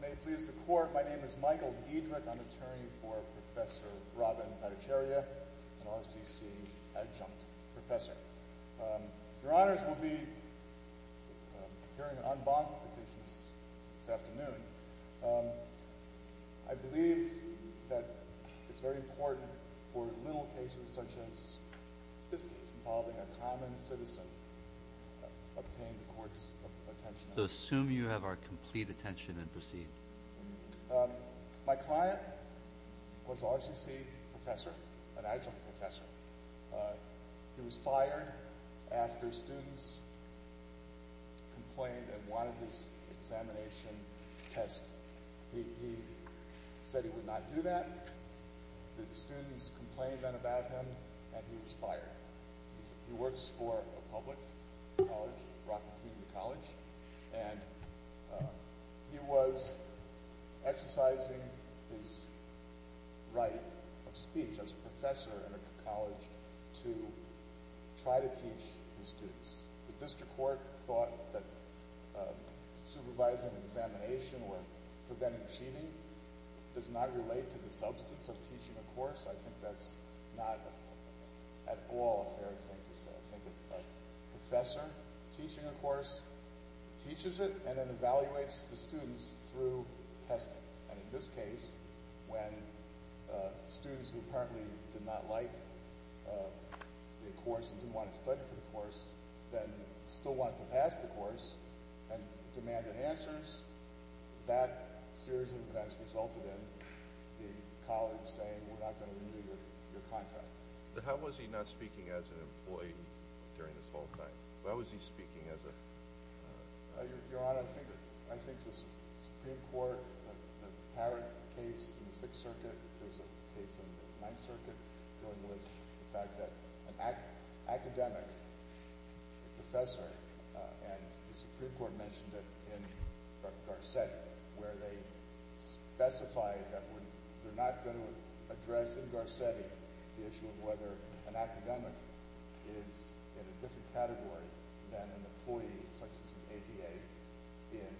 May it please the Court, my name is Michael Diedrich. I'm attorney for Professor Robin Bhattacharya, an RCC adjunct professor. Your Honors, we'll be hearing an en banc petition this afternoon. I believe that it's very important for little cases such as this case involving a common citizen obtain the Court's attention. So assume you have our complete attention and proceed. My client was RCC professor, an adjunct professor. He was fired after students complained and wanted his examination test. He said he would not do that. Students complained about him and he was fired. He works for a public college, Rockland Community College, and he was exercising his right of speech as a professor in a college to try to teach his students. The District Court thought that supervising an examination or preventing cheating does not relate to the substance of teaching a course. I think that's not at all a fair thing to say. I think that a professor teaching a course teaches it and then evaluates the students through testing. And in this case, when students who apparently did not like the course and didn't want to study for the course then still wanted to pass the course and demanded answers, that series of events resulted in the college saying, we're not going to renew your contract. But how was he not speaking as an employee during this whole thing? Why was he speaking as a... Your Honor, I think the Supreme Court apparent case in the Sixth Circuit is a case in the Supreme Court mentioned it in Garcetti where they specified that they're not going to address in Garcetti the issue of whether an academic is in a different category than an employee such as an ADA in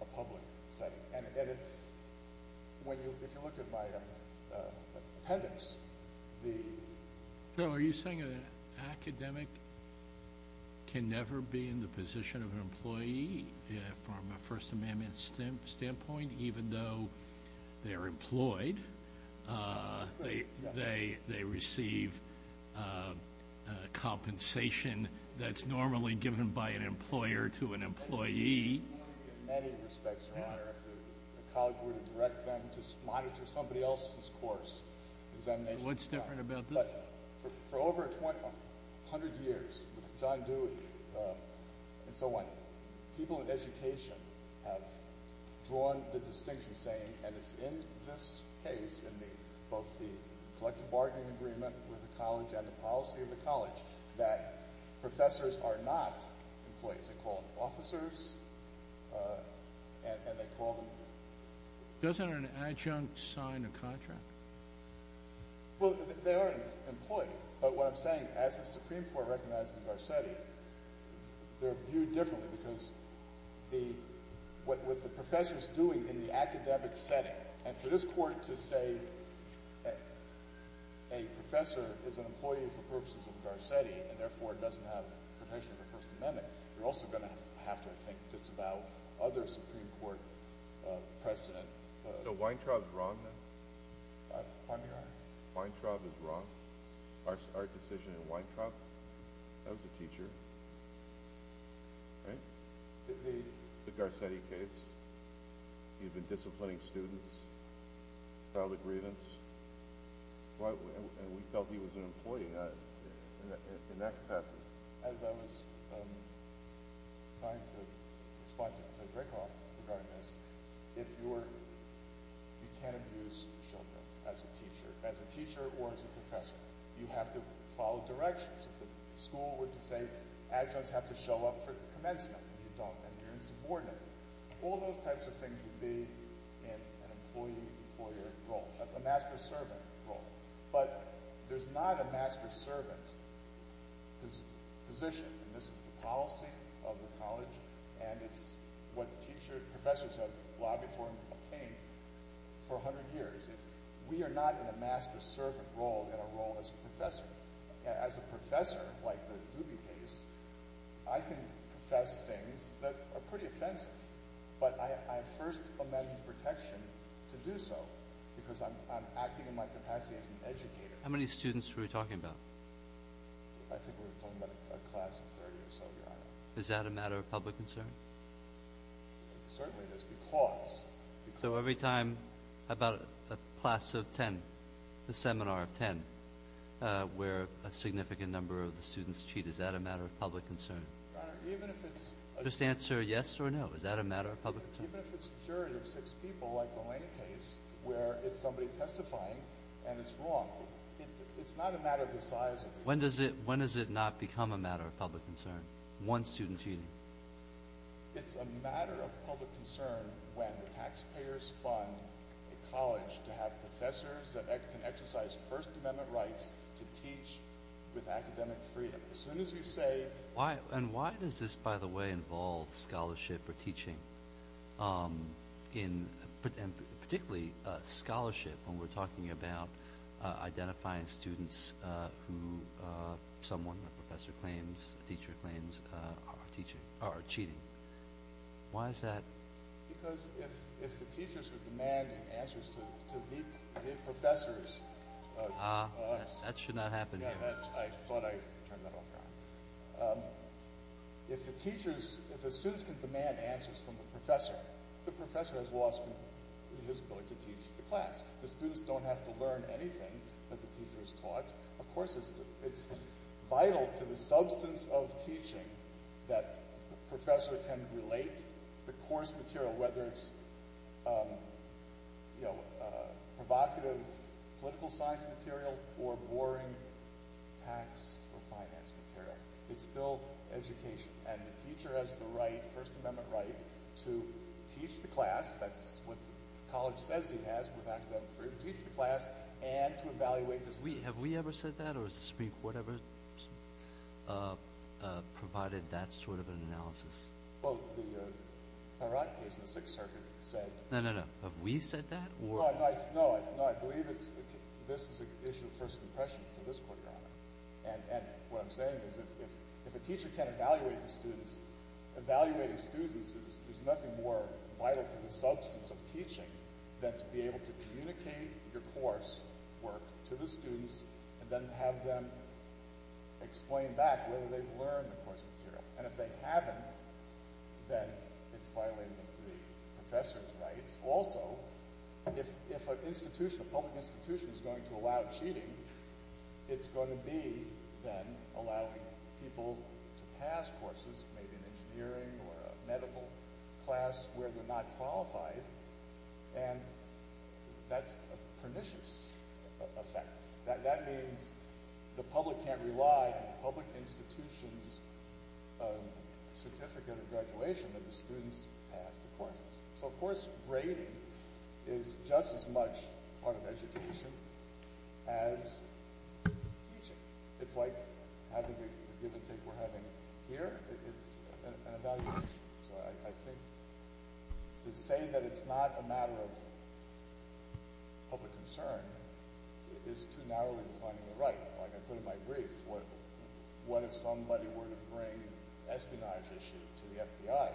a public setting. And if you look at my appendix, the... So are you saying an academic can never be in the position of an employee from a First Amendment standpoint even though they're employed? They receive compensation that's normally given by an employer to an employee? In many respects, Your Honor, if the college were to direct them to monitor somebody else's What's different about that? For over 100 years with John Dewey and so on, people in education have drawn the distinction saying, and it's in this case in both the collective bargaining agreement with the college and the policy of the college, that professors are not employees. They call them officers and they call them... Doesn't an adjunct sign a contract? Well, they are an employee. But what I'm saying, as the Supreme Court recognized in Garcetti, they're viewed differently because what the professor's doing in the academic setting and for this court to say a professor is an employee for purposes of Garcetti and therefore doesn't have permission for First Amendment, you're also going to have to think just about the other Supreme Court precedent. So Weintraub's wrong then? Pardon me, Your Honor? Weintraub is wrong? Our decision in Weintraub? That was a teacher. Right? The... The Garcetti case. He had been disciplining students. Child aggrievance. And we felt he was an employee in that capacity. As I was trying to respond to Dracoff regarding this, if you're... you can't abuse children as a teacher or as a professor. You have to follow directions. If the school were to say adjuncts have to show up for commencement and you're insubordinate. All those types of things would be in an employee-employer role. A master-servant role. But there's not a master-servant position. And this is the policy of the college and it's what teachers... professors have lobbied for and obtained for a hundred years. We are not in a master-servant role in our role as a professor. As a professor, like the Dubie case, I can profess things that are pretty offensive. But I have First Amendment protection to do so because I'm acting in my capacity as an educator. How many students were we talking about? I think we were talking about a class of 30 or so, Your Honor. Is that a matter of public concern? Certainly, it is because... So every time... how about a class of 10? A seminar of 10? Where a significant number of the students cheat. Is that a matter of public concern? Your Honor, even if it's... Just answer yes or no. Is that a matter of public concern? Even if it's a jury of six people, like the Lane case, where it's somebody testifying and it's wrong, it's not a matter of the size of the... When does it not become a matter of public concern? One student cheating? It's a matter of public concern when the taxpayers fund a college to have professors that can exercise First Amendment rights to teach with academic freedom. As soon as you say... And why does this, by the way, involve scholarship or teaching? Particularly scholarship when we're talking about identifying students who someone, a professor claims, a teacher claims are cheating. Why is that? Because if the teachers are demanding answers to the professors... Ah, that should not happen here. I thought I turned that off, Your Honor. If the students can demand answers from the professor, the professor has lost his ability to teach the class. The students don't have to learn anything that the teacher has taught. Of course, it's vital to the substance of teaching that the professor can relate the course material, whether it's provocative political science material or boring tax or finance material. It's still education. And the teacher has the right, First Amendment right, to teach the class. That's what the college says he has with academic freedom, to teach the class and to evaluate the students. Have we ever said that? Or has the Supreme Court ever provided that sort of an analysis? Well, the Hirad case in the Sixth Circuit said... No, no, no. Have we said that? No, I believe this is an issue of first impression for this Court, Your Honor. And what I'm saying is if a teacher can't evaluate the students, evaluating students is, there's nothing more vital to the substance of teaching than to be able to communicate your course work to the students and then have them explain back whether they've learned the course material. And if they haven't, then it's violating the professor's rights. Also, if an institution, a public institution, is going to allow cheating, it's going to be then allowing people to pass courses, maybe an engineering or a medical class, where they're not qualified. And that's a pernicious effect. That means the public can't rely on the public institution's certificate of graduation that the students pass the courses. So, of course, grading is just as much part of education as teaching. It's like having the give and take we're having here. It's an evaluation. So I think to say that it's not a matter of public concern is too narrowly defining the right. Like I put in my brief, what if somebody were to bring espionage issue to the FBI?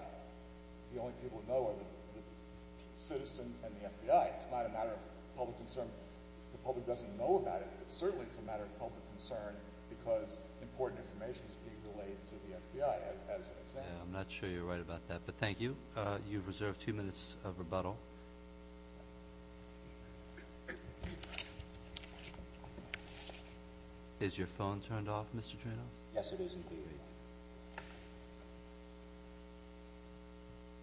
The only people that know are the citizen and the FBI. It's not a matter of public concern. The public doesn't know about it, but certainly it's a matter of public concern because important information is being relayed to the FBI as an example. I'm not sure you're right about that, but thank you. You've reserved two minutes of rebuttal. Is your phone turned off, Mr. Dranoff? Yes, it is indeed.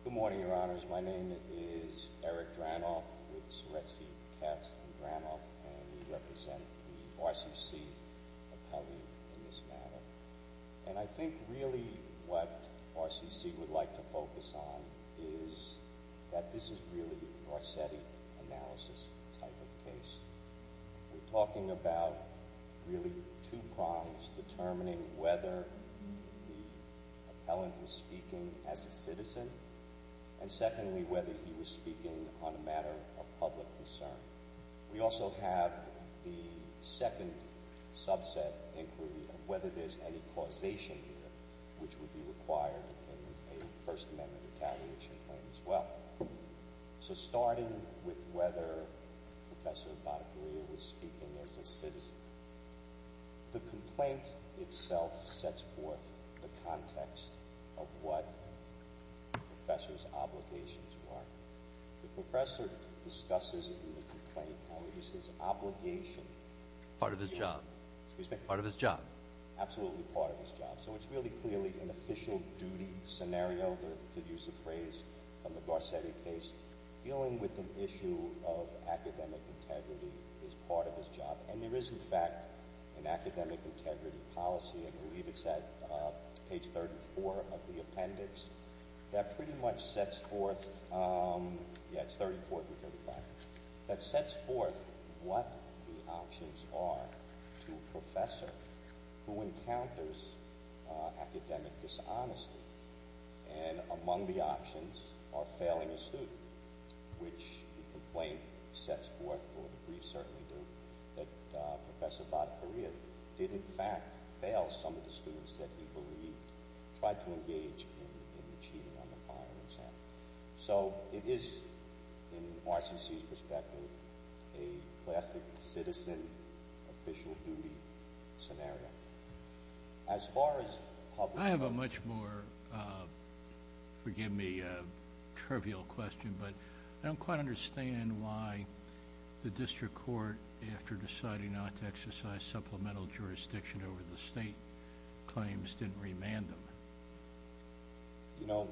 Good morning, Your Honors. My name is Eric Dranoff with Soretzky, Katz, and Dranoff, and we represent the RCC appellee in this matter. And I think really what RCC would like to focus on is that this is really a Garcetti analysis type of case. We're talking about really two crimes determining whether the appellant was speaking as a citizen and secondly whether he was speaking on a matter of public concern. We also have the second a First Amendment retaliation claim as well. So starting with whether Professor Barbarilla was speaking as a citizen, the complaint itself sets forth the context of what the professor's obligations were. The professor discusses in the complaint how it was his obligation. Part of his job. Part of his job. Absolutely part of his job. So it's really clearly an official duty scenario, to use a phrase from the Garcetti case, dealing with an issue of academic integrity is part of his job. And there is in fact an academic integrity policy, I believe it's at page 34 of the appendix, that pretty much sets forth, yeah it's 34 and among the options are failing a student, which the complaint sets forth, or the briefs certainly do, that Professor Barbarilla did in fact fail some of the students that he believed tried to engage in the cheating on the final exam. So it is, in RCC's perspective, a classic citizen official duty scenario. As far as public... I have a much more, forgive me, trivial question, but I don't quite understand why the district court, after deciding not to exercise supplemental jurisdiction over the state claims, didn't remand them. You know,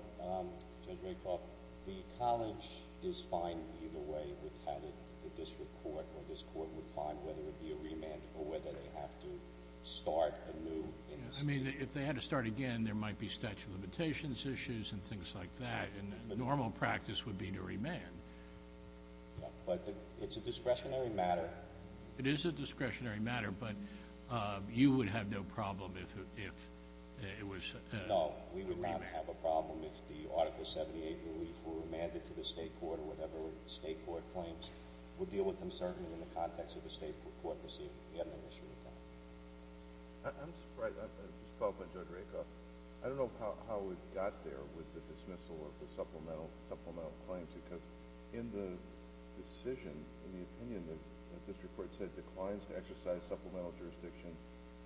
Judge Raycroft, the college is fine either way. We've had it, the district court or this court would find whether it would be a remand or whether they have to start a new... I mean, if they had to start again, there might be statute of limitations issues and things like that, and the normal practice would be to remand. Yeah, but it's a discretionary matter. It is a discretionary matter, but you would have no problem if it was a remand. No, we would not have a problem if the Article 78 briefs were remanded to the state court or whatever state court claims. We'll deal with them certainly in the context of the state court proceeding. We haven't had an issue with that. I'm surprised. I just thought about Judge Raycroft. I don't know how we got there with the dismissal of the supplemental claims, because in the decision, in the opinion that the district court said supplemental jurisdiction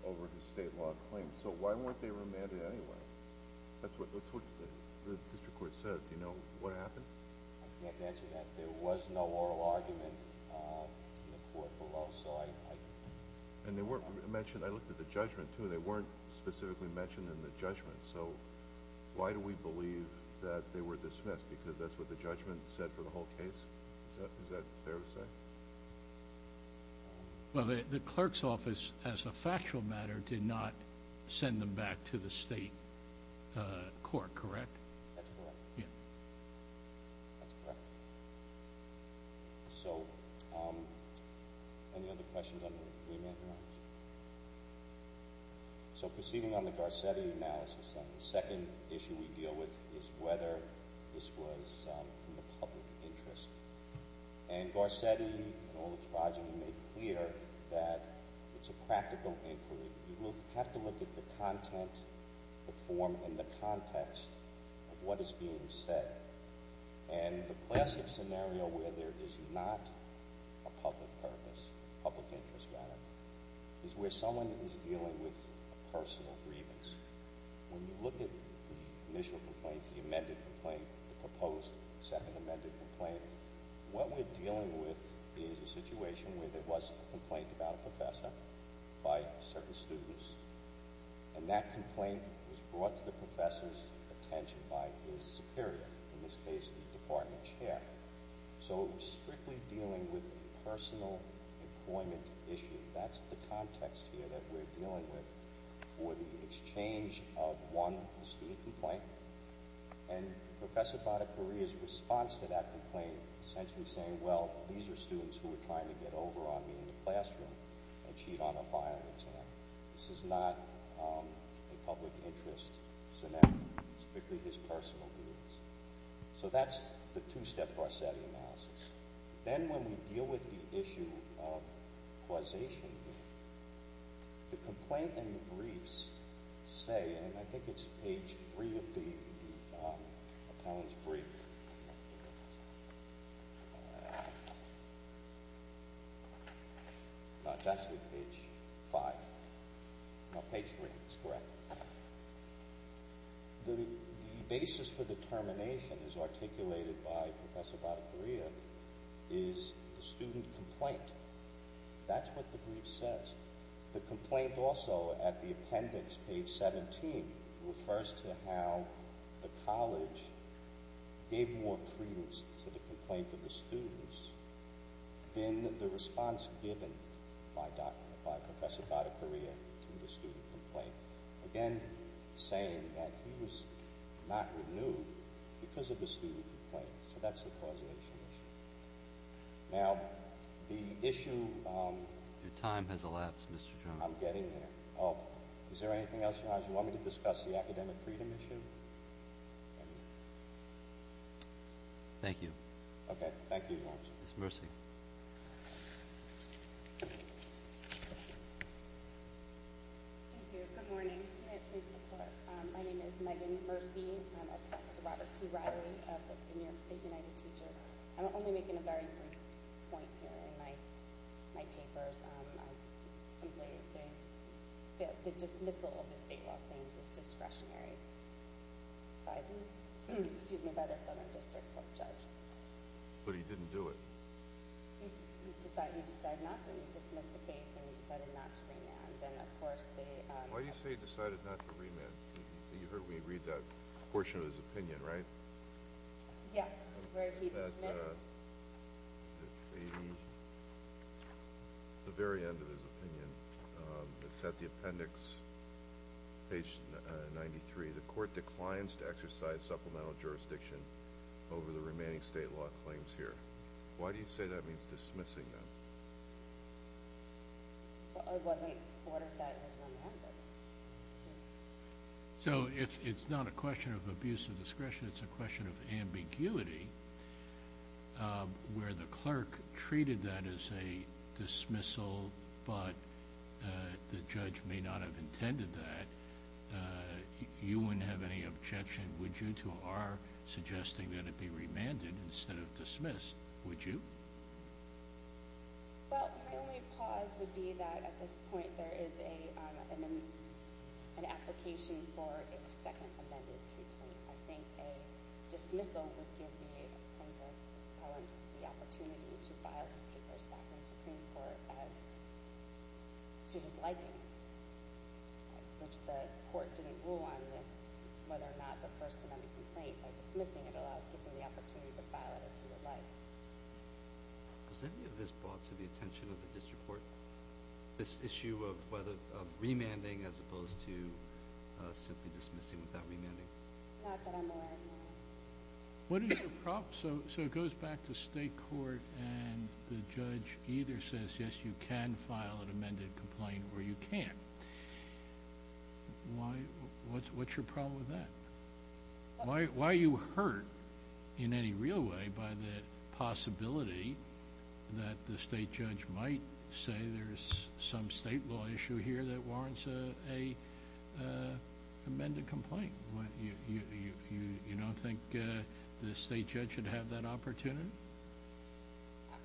over the state law claim. So why weren't they remanded anyway? That's what the district court said. Do you know what happened? I can't answer that. There was no oral argument in the court below, so I... And they weren't mentioned... I looked at the judgment, too. They weren't specifically mentioned in the judgment, so why do we believe that they were dismissed, because that's what the judgment said for the whole case? Is that fair to say? Well, the clerk's office, as a factual matter, did not send them back to the state court, correct? That's correct. Yeah. That's correct. So, any other questions on the remand grounds? So proceeding on the Garcetti analysis, the second issue we deal with is whether this was from the public interest. And Garcetti and all the tribes have made clear that it's a practical inquiry. You will have to look at the content, the form, and the context of what is being said. And the classic scenario where there is not a public purpose, public interest matter, is where someone is dealing with personal grievance. When you look at the initial complaint, the amended complaint, the proposed second amended complaint, what we're dealing with is a situation where there was a complaint about a professor by certain students, and that complaint was brought to the professor's attention by his superior, in this case the department chair. So strictly dealing with the exchange of one student complaint, and Professor Bhattacharyya's response to that complaint, essentially saying, well, these are students who are trying to get over on me in the classroom and cheat on a file. This is not a public interest scenario. It's strictly his personal grievance. So that's the two-step Garcetti analysis. Then when we deal with the issue of causation, the complaint and the briefs say, and I think it's page three of the appellant's brief. No, it's actually page five. No, page three is correct. The student complaint. That's what the brief says. The complaint also at the appendix, page 17, refers to how the college gave more credence to the complaint of the students than the response given by Professor Bhattacharyya to the student complaint. Again, saying that he was not renewed because of the student complaint. So that's the causation issue. Now, the issue... Your time has elapsed, Mr. Jones. I'm getting there. Oh, is there anything else you want me to discuss? The academic freedom issue? Thank you. Okay, thank you. Ms. Mercy. Thank you. Good morning. My name is Megan Mercy. I'm a professor at the New York State United Teachers. I'm only making a very brief point here in my papers. The dismissal of the state law claims is discretionary by the Southern District Court judge. But he didn't do it. He decided not to. He dismissed the case and he decided not to remand. Why do you say he decided not to remand? You heard me read that portion of his opinion, right? Yes, where he dismissed... The very end of his opinion. It's at the appendix, page 93. The court declines to exercise supplemental jurisdiction over the remaining state law claims here. Why do you say that means dismissing them? It wasn't ordered that as remanded. So if it's not a question of abuse of discretion, it's a question of ambiguity. Where the clerk treated that as a dismissal, but the judge may not have intended that, you wouldn't have any objection, would you, to our suggesting that it be remanded instead of dismissed? Would you? Well, my only pause would be that at this point there is an application for a second amended pre-point. I think a dismissal would give me a point of challenge of the opportunity to file these papers back in the Supreme Court as to his liking, which the court didn't rule on whether or not the First Amendment complaint by dismissing it gives him the opportunity to file it as he would like. Was any of this brought to the attention of the district court, this issue of remanding as opposed to simply dismissing without remanding? Not that I'm aware of, no. What is your problem? So it goes back to state court and the judge either says, yes, you can file an amended complaint or you can't. What's your problem with that? Why are you hurt in any real way by the possibility that the state judge might say there's some state law issue here that warrants an amended complaint? You don't think the state judge should have that opportunity?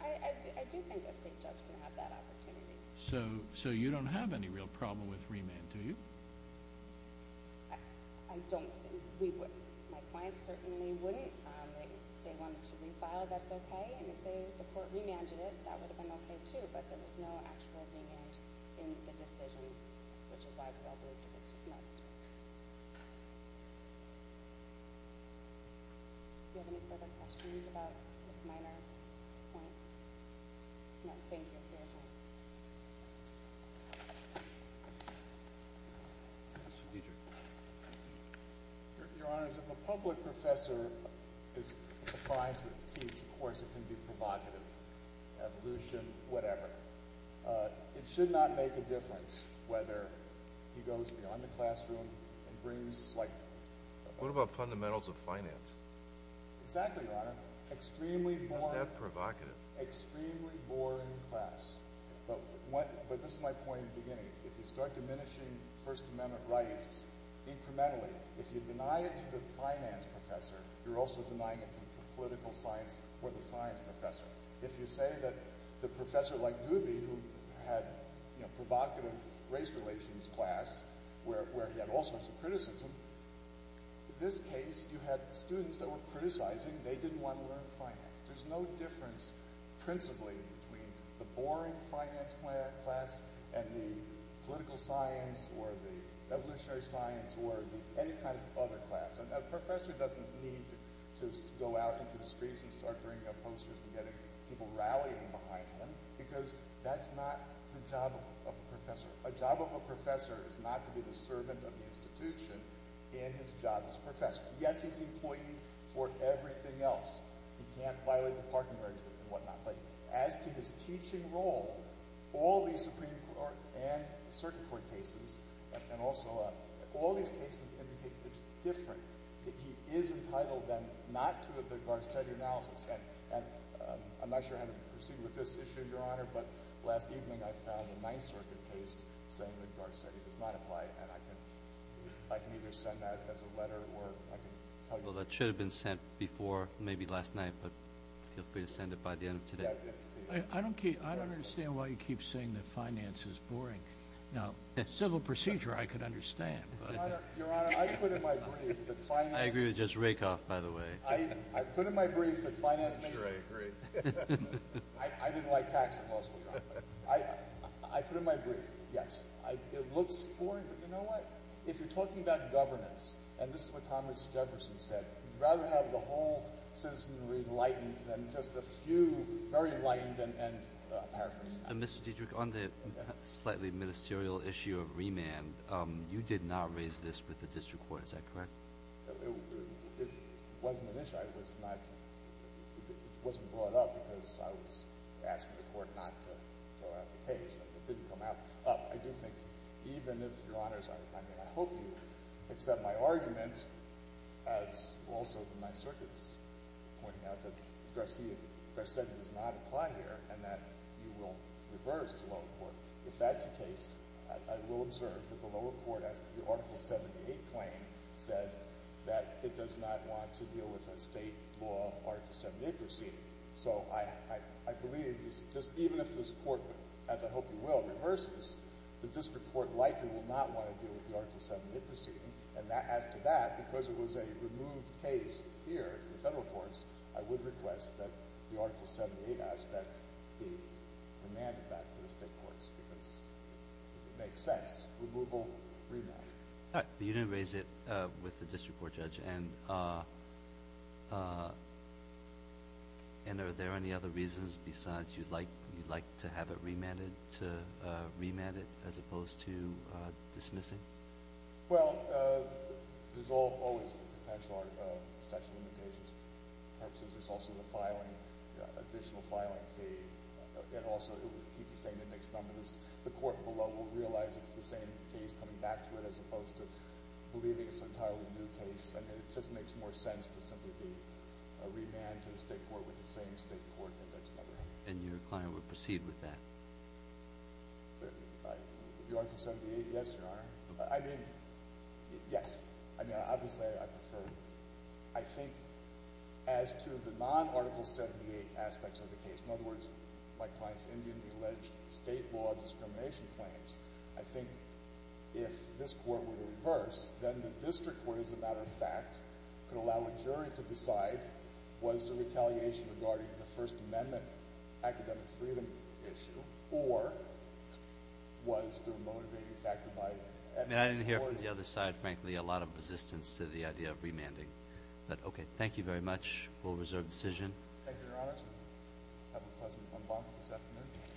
I do think a state judge can have that opportunity. So you don't have any real problem with remand, do you? I don't. We wouldn't. My clients certainly wouldn't. If they wanted to refile, that's okay, and if the court remanded it, that would have been okay, too, but there was no actual remand in the decision, which is why we all believed it was dismissed. Do you have any further questions about this minor point? No, thank you for your time. Mr. Dietrich. Your Honor, if a public professor is assigned to teach a course that can be provocative, evolution, whatever, it should not make a difference whether he goes beyond the classroom and brings like— What about fundamentals of finance? Exactly, Your Honor. Extremely boring— Is that provocative? Extremely boring class. But this is my point in the beginning. If you start diminishing First Amendment rights incrementally, if you deny it to the finance professor, you're also denying it to the political science or the science professor. If you say that the professor like Doobie, who had provocative race relations class, where he had all sorts of criticism, in this case you had students that were criticizing. They didn't want to learn finance. There's no difference principally between the boring finance class and the political science or the evolutionary science or any kind of other class. A professor doesn't need to go out into the streets and start bringing up posters and getting people rallying behind him because that's not the job of a professor. A job of a professor is not to be the servant of the institution in his job as professor. Yes, he's the employee for everything else. He can't violate the parking regimen and whatnot. But as to his teaching role, all these Supreme Court and circuit court cases and also all these cases indicate it's different, that he is entitled then not to a Big Bar Steady analysis. And I'm not sure how to proceed with this issue, Your Honor, but last evening I found a Ninth Circuit case saying Big Bar Steady does not apply, and I can either send that as a letter or I can tell you— Well, that should have been sent before, maybe last night, but feel free to send it by the end of today. I don't understand why you keep saying that finance is boring. Now, civil procedure I could understand, but— Your Honor, I put in my brief that finance— I agree with Judge Rakoff, by the way. I put in my brief that finance makes— Sure, I agree. I didn't like tax at law school, Your Honor. I put in my brief, yes, it looks foreign, but you know what? If you're talking about governance, and this is what Thomas Jefferson said, you'd rather have the whole citizenry enlightened than just a few very enlightened and paraphrased. Mr. Dietrich, on the slightly ministerial issue of remand, you did not raise this with the district court. Is that correct? It wasn't an issue. I was not—it wasn't brought up because I was asking the court not to throw out the case. It didn't come out. I do think, even if, Your Honors, I mean, I hope you accept my argument, as also in my circuits pointing out that Garcetti does not apply here and that you will reverse the lower court. If that's the case, I will observe that the lower court, as the Article 78 claim said, that it does not want to deal with a state law Article 78 proceeding. So I believe just even if this court, as I hope you will, reverses, the district court likely will not want to deal with the Article 78 proceeding. And as to that, because it was a removed case here in the federal courts, I would request that the Article 78 aspect be remanded back to the state courts because it makes sense. Removal, remand. All right. But you didn't raise it with the district court judge. And are there any other reasons besides you'd like to have it remanded as opposed to dismissing? Well, there's always the potential of section limitations. Perhaps there's also the filing, additional filing fee. And also, it would keep the same index number. The court below will realize it's the same case coming back to it as opposed to believing it's an entirely new case. And it just makes more sense to simply be remanded to the state court with the same state court index number. And your client would proceed with that? The Article 78? Yes, Your Honor. I mean, yes. I mean, obviously, I prefer. I think as to the non-Article 78 aspects of the case, in other words, my client's indianly alleged state law discrimination claims, I think if this court were to reverse, then the district court, as a matter of fact, could allow a jury to decide, was the retaliation regarding the First Amendment academic freedom issue, or was there a motivating factor by the district court? I mean, I didn't hear from the other side, frankly, a lot of resistance to the idea of remanding. But, okay. Thank you very much. We'll reserve decision. Thank you, Your Honor. Thank you very much. And have a pleasant bonfire this afternoon.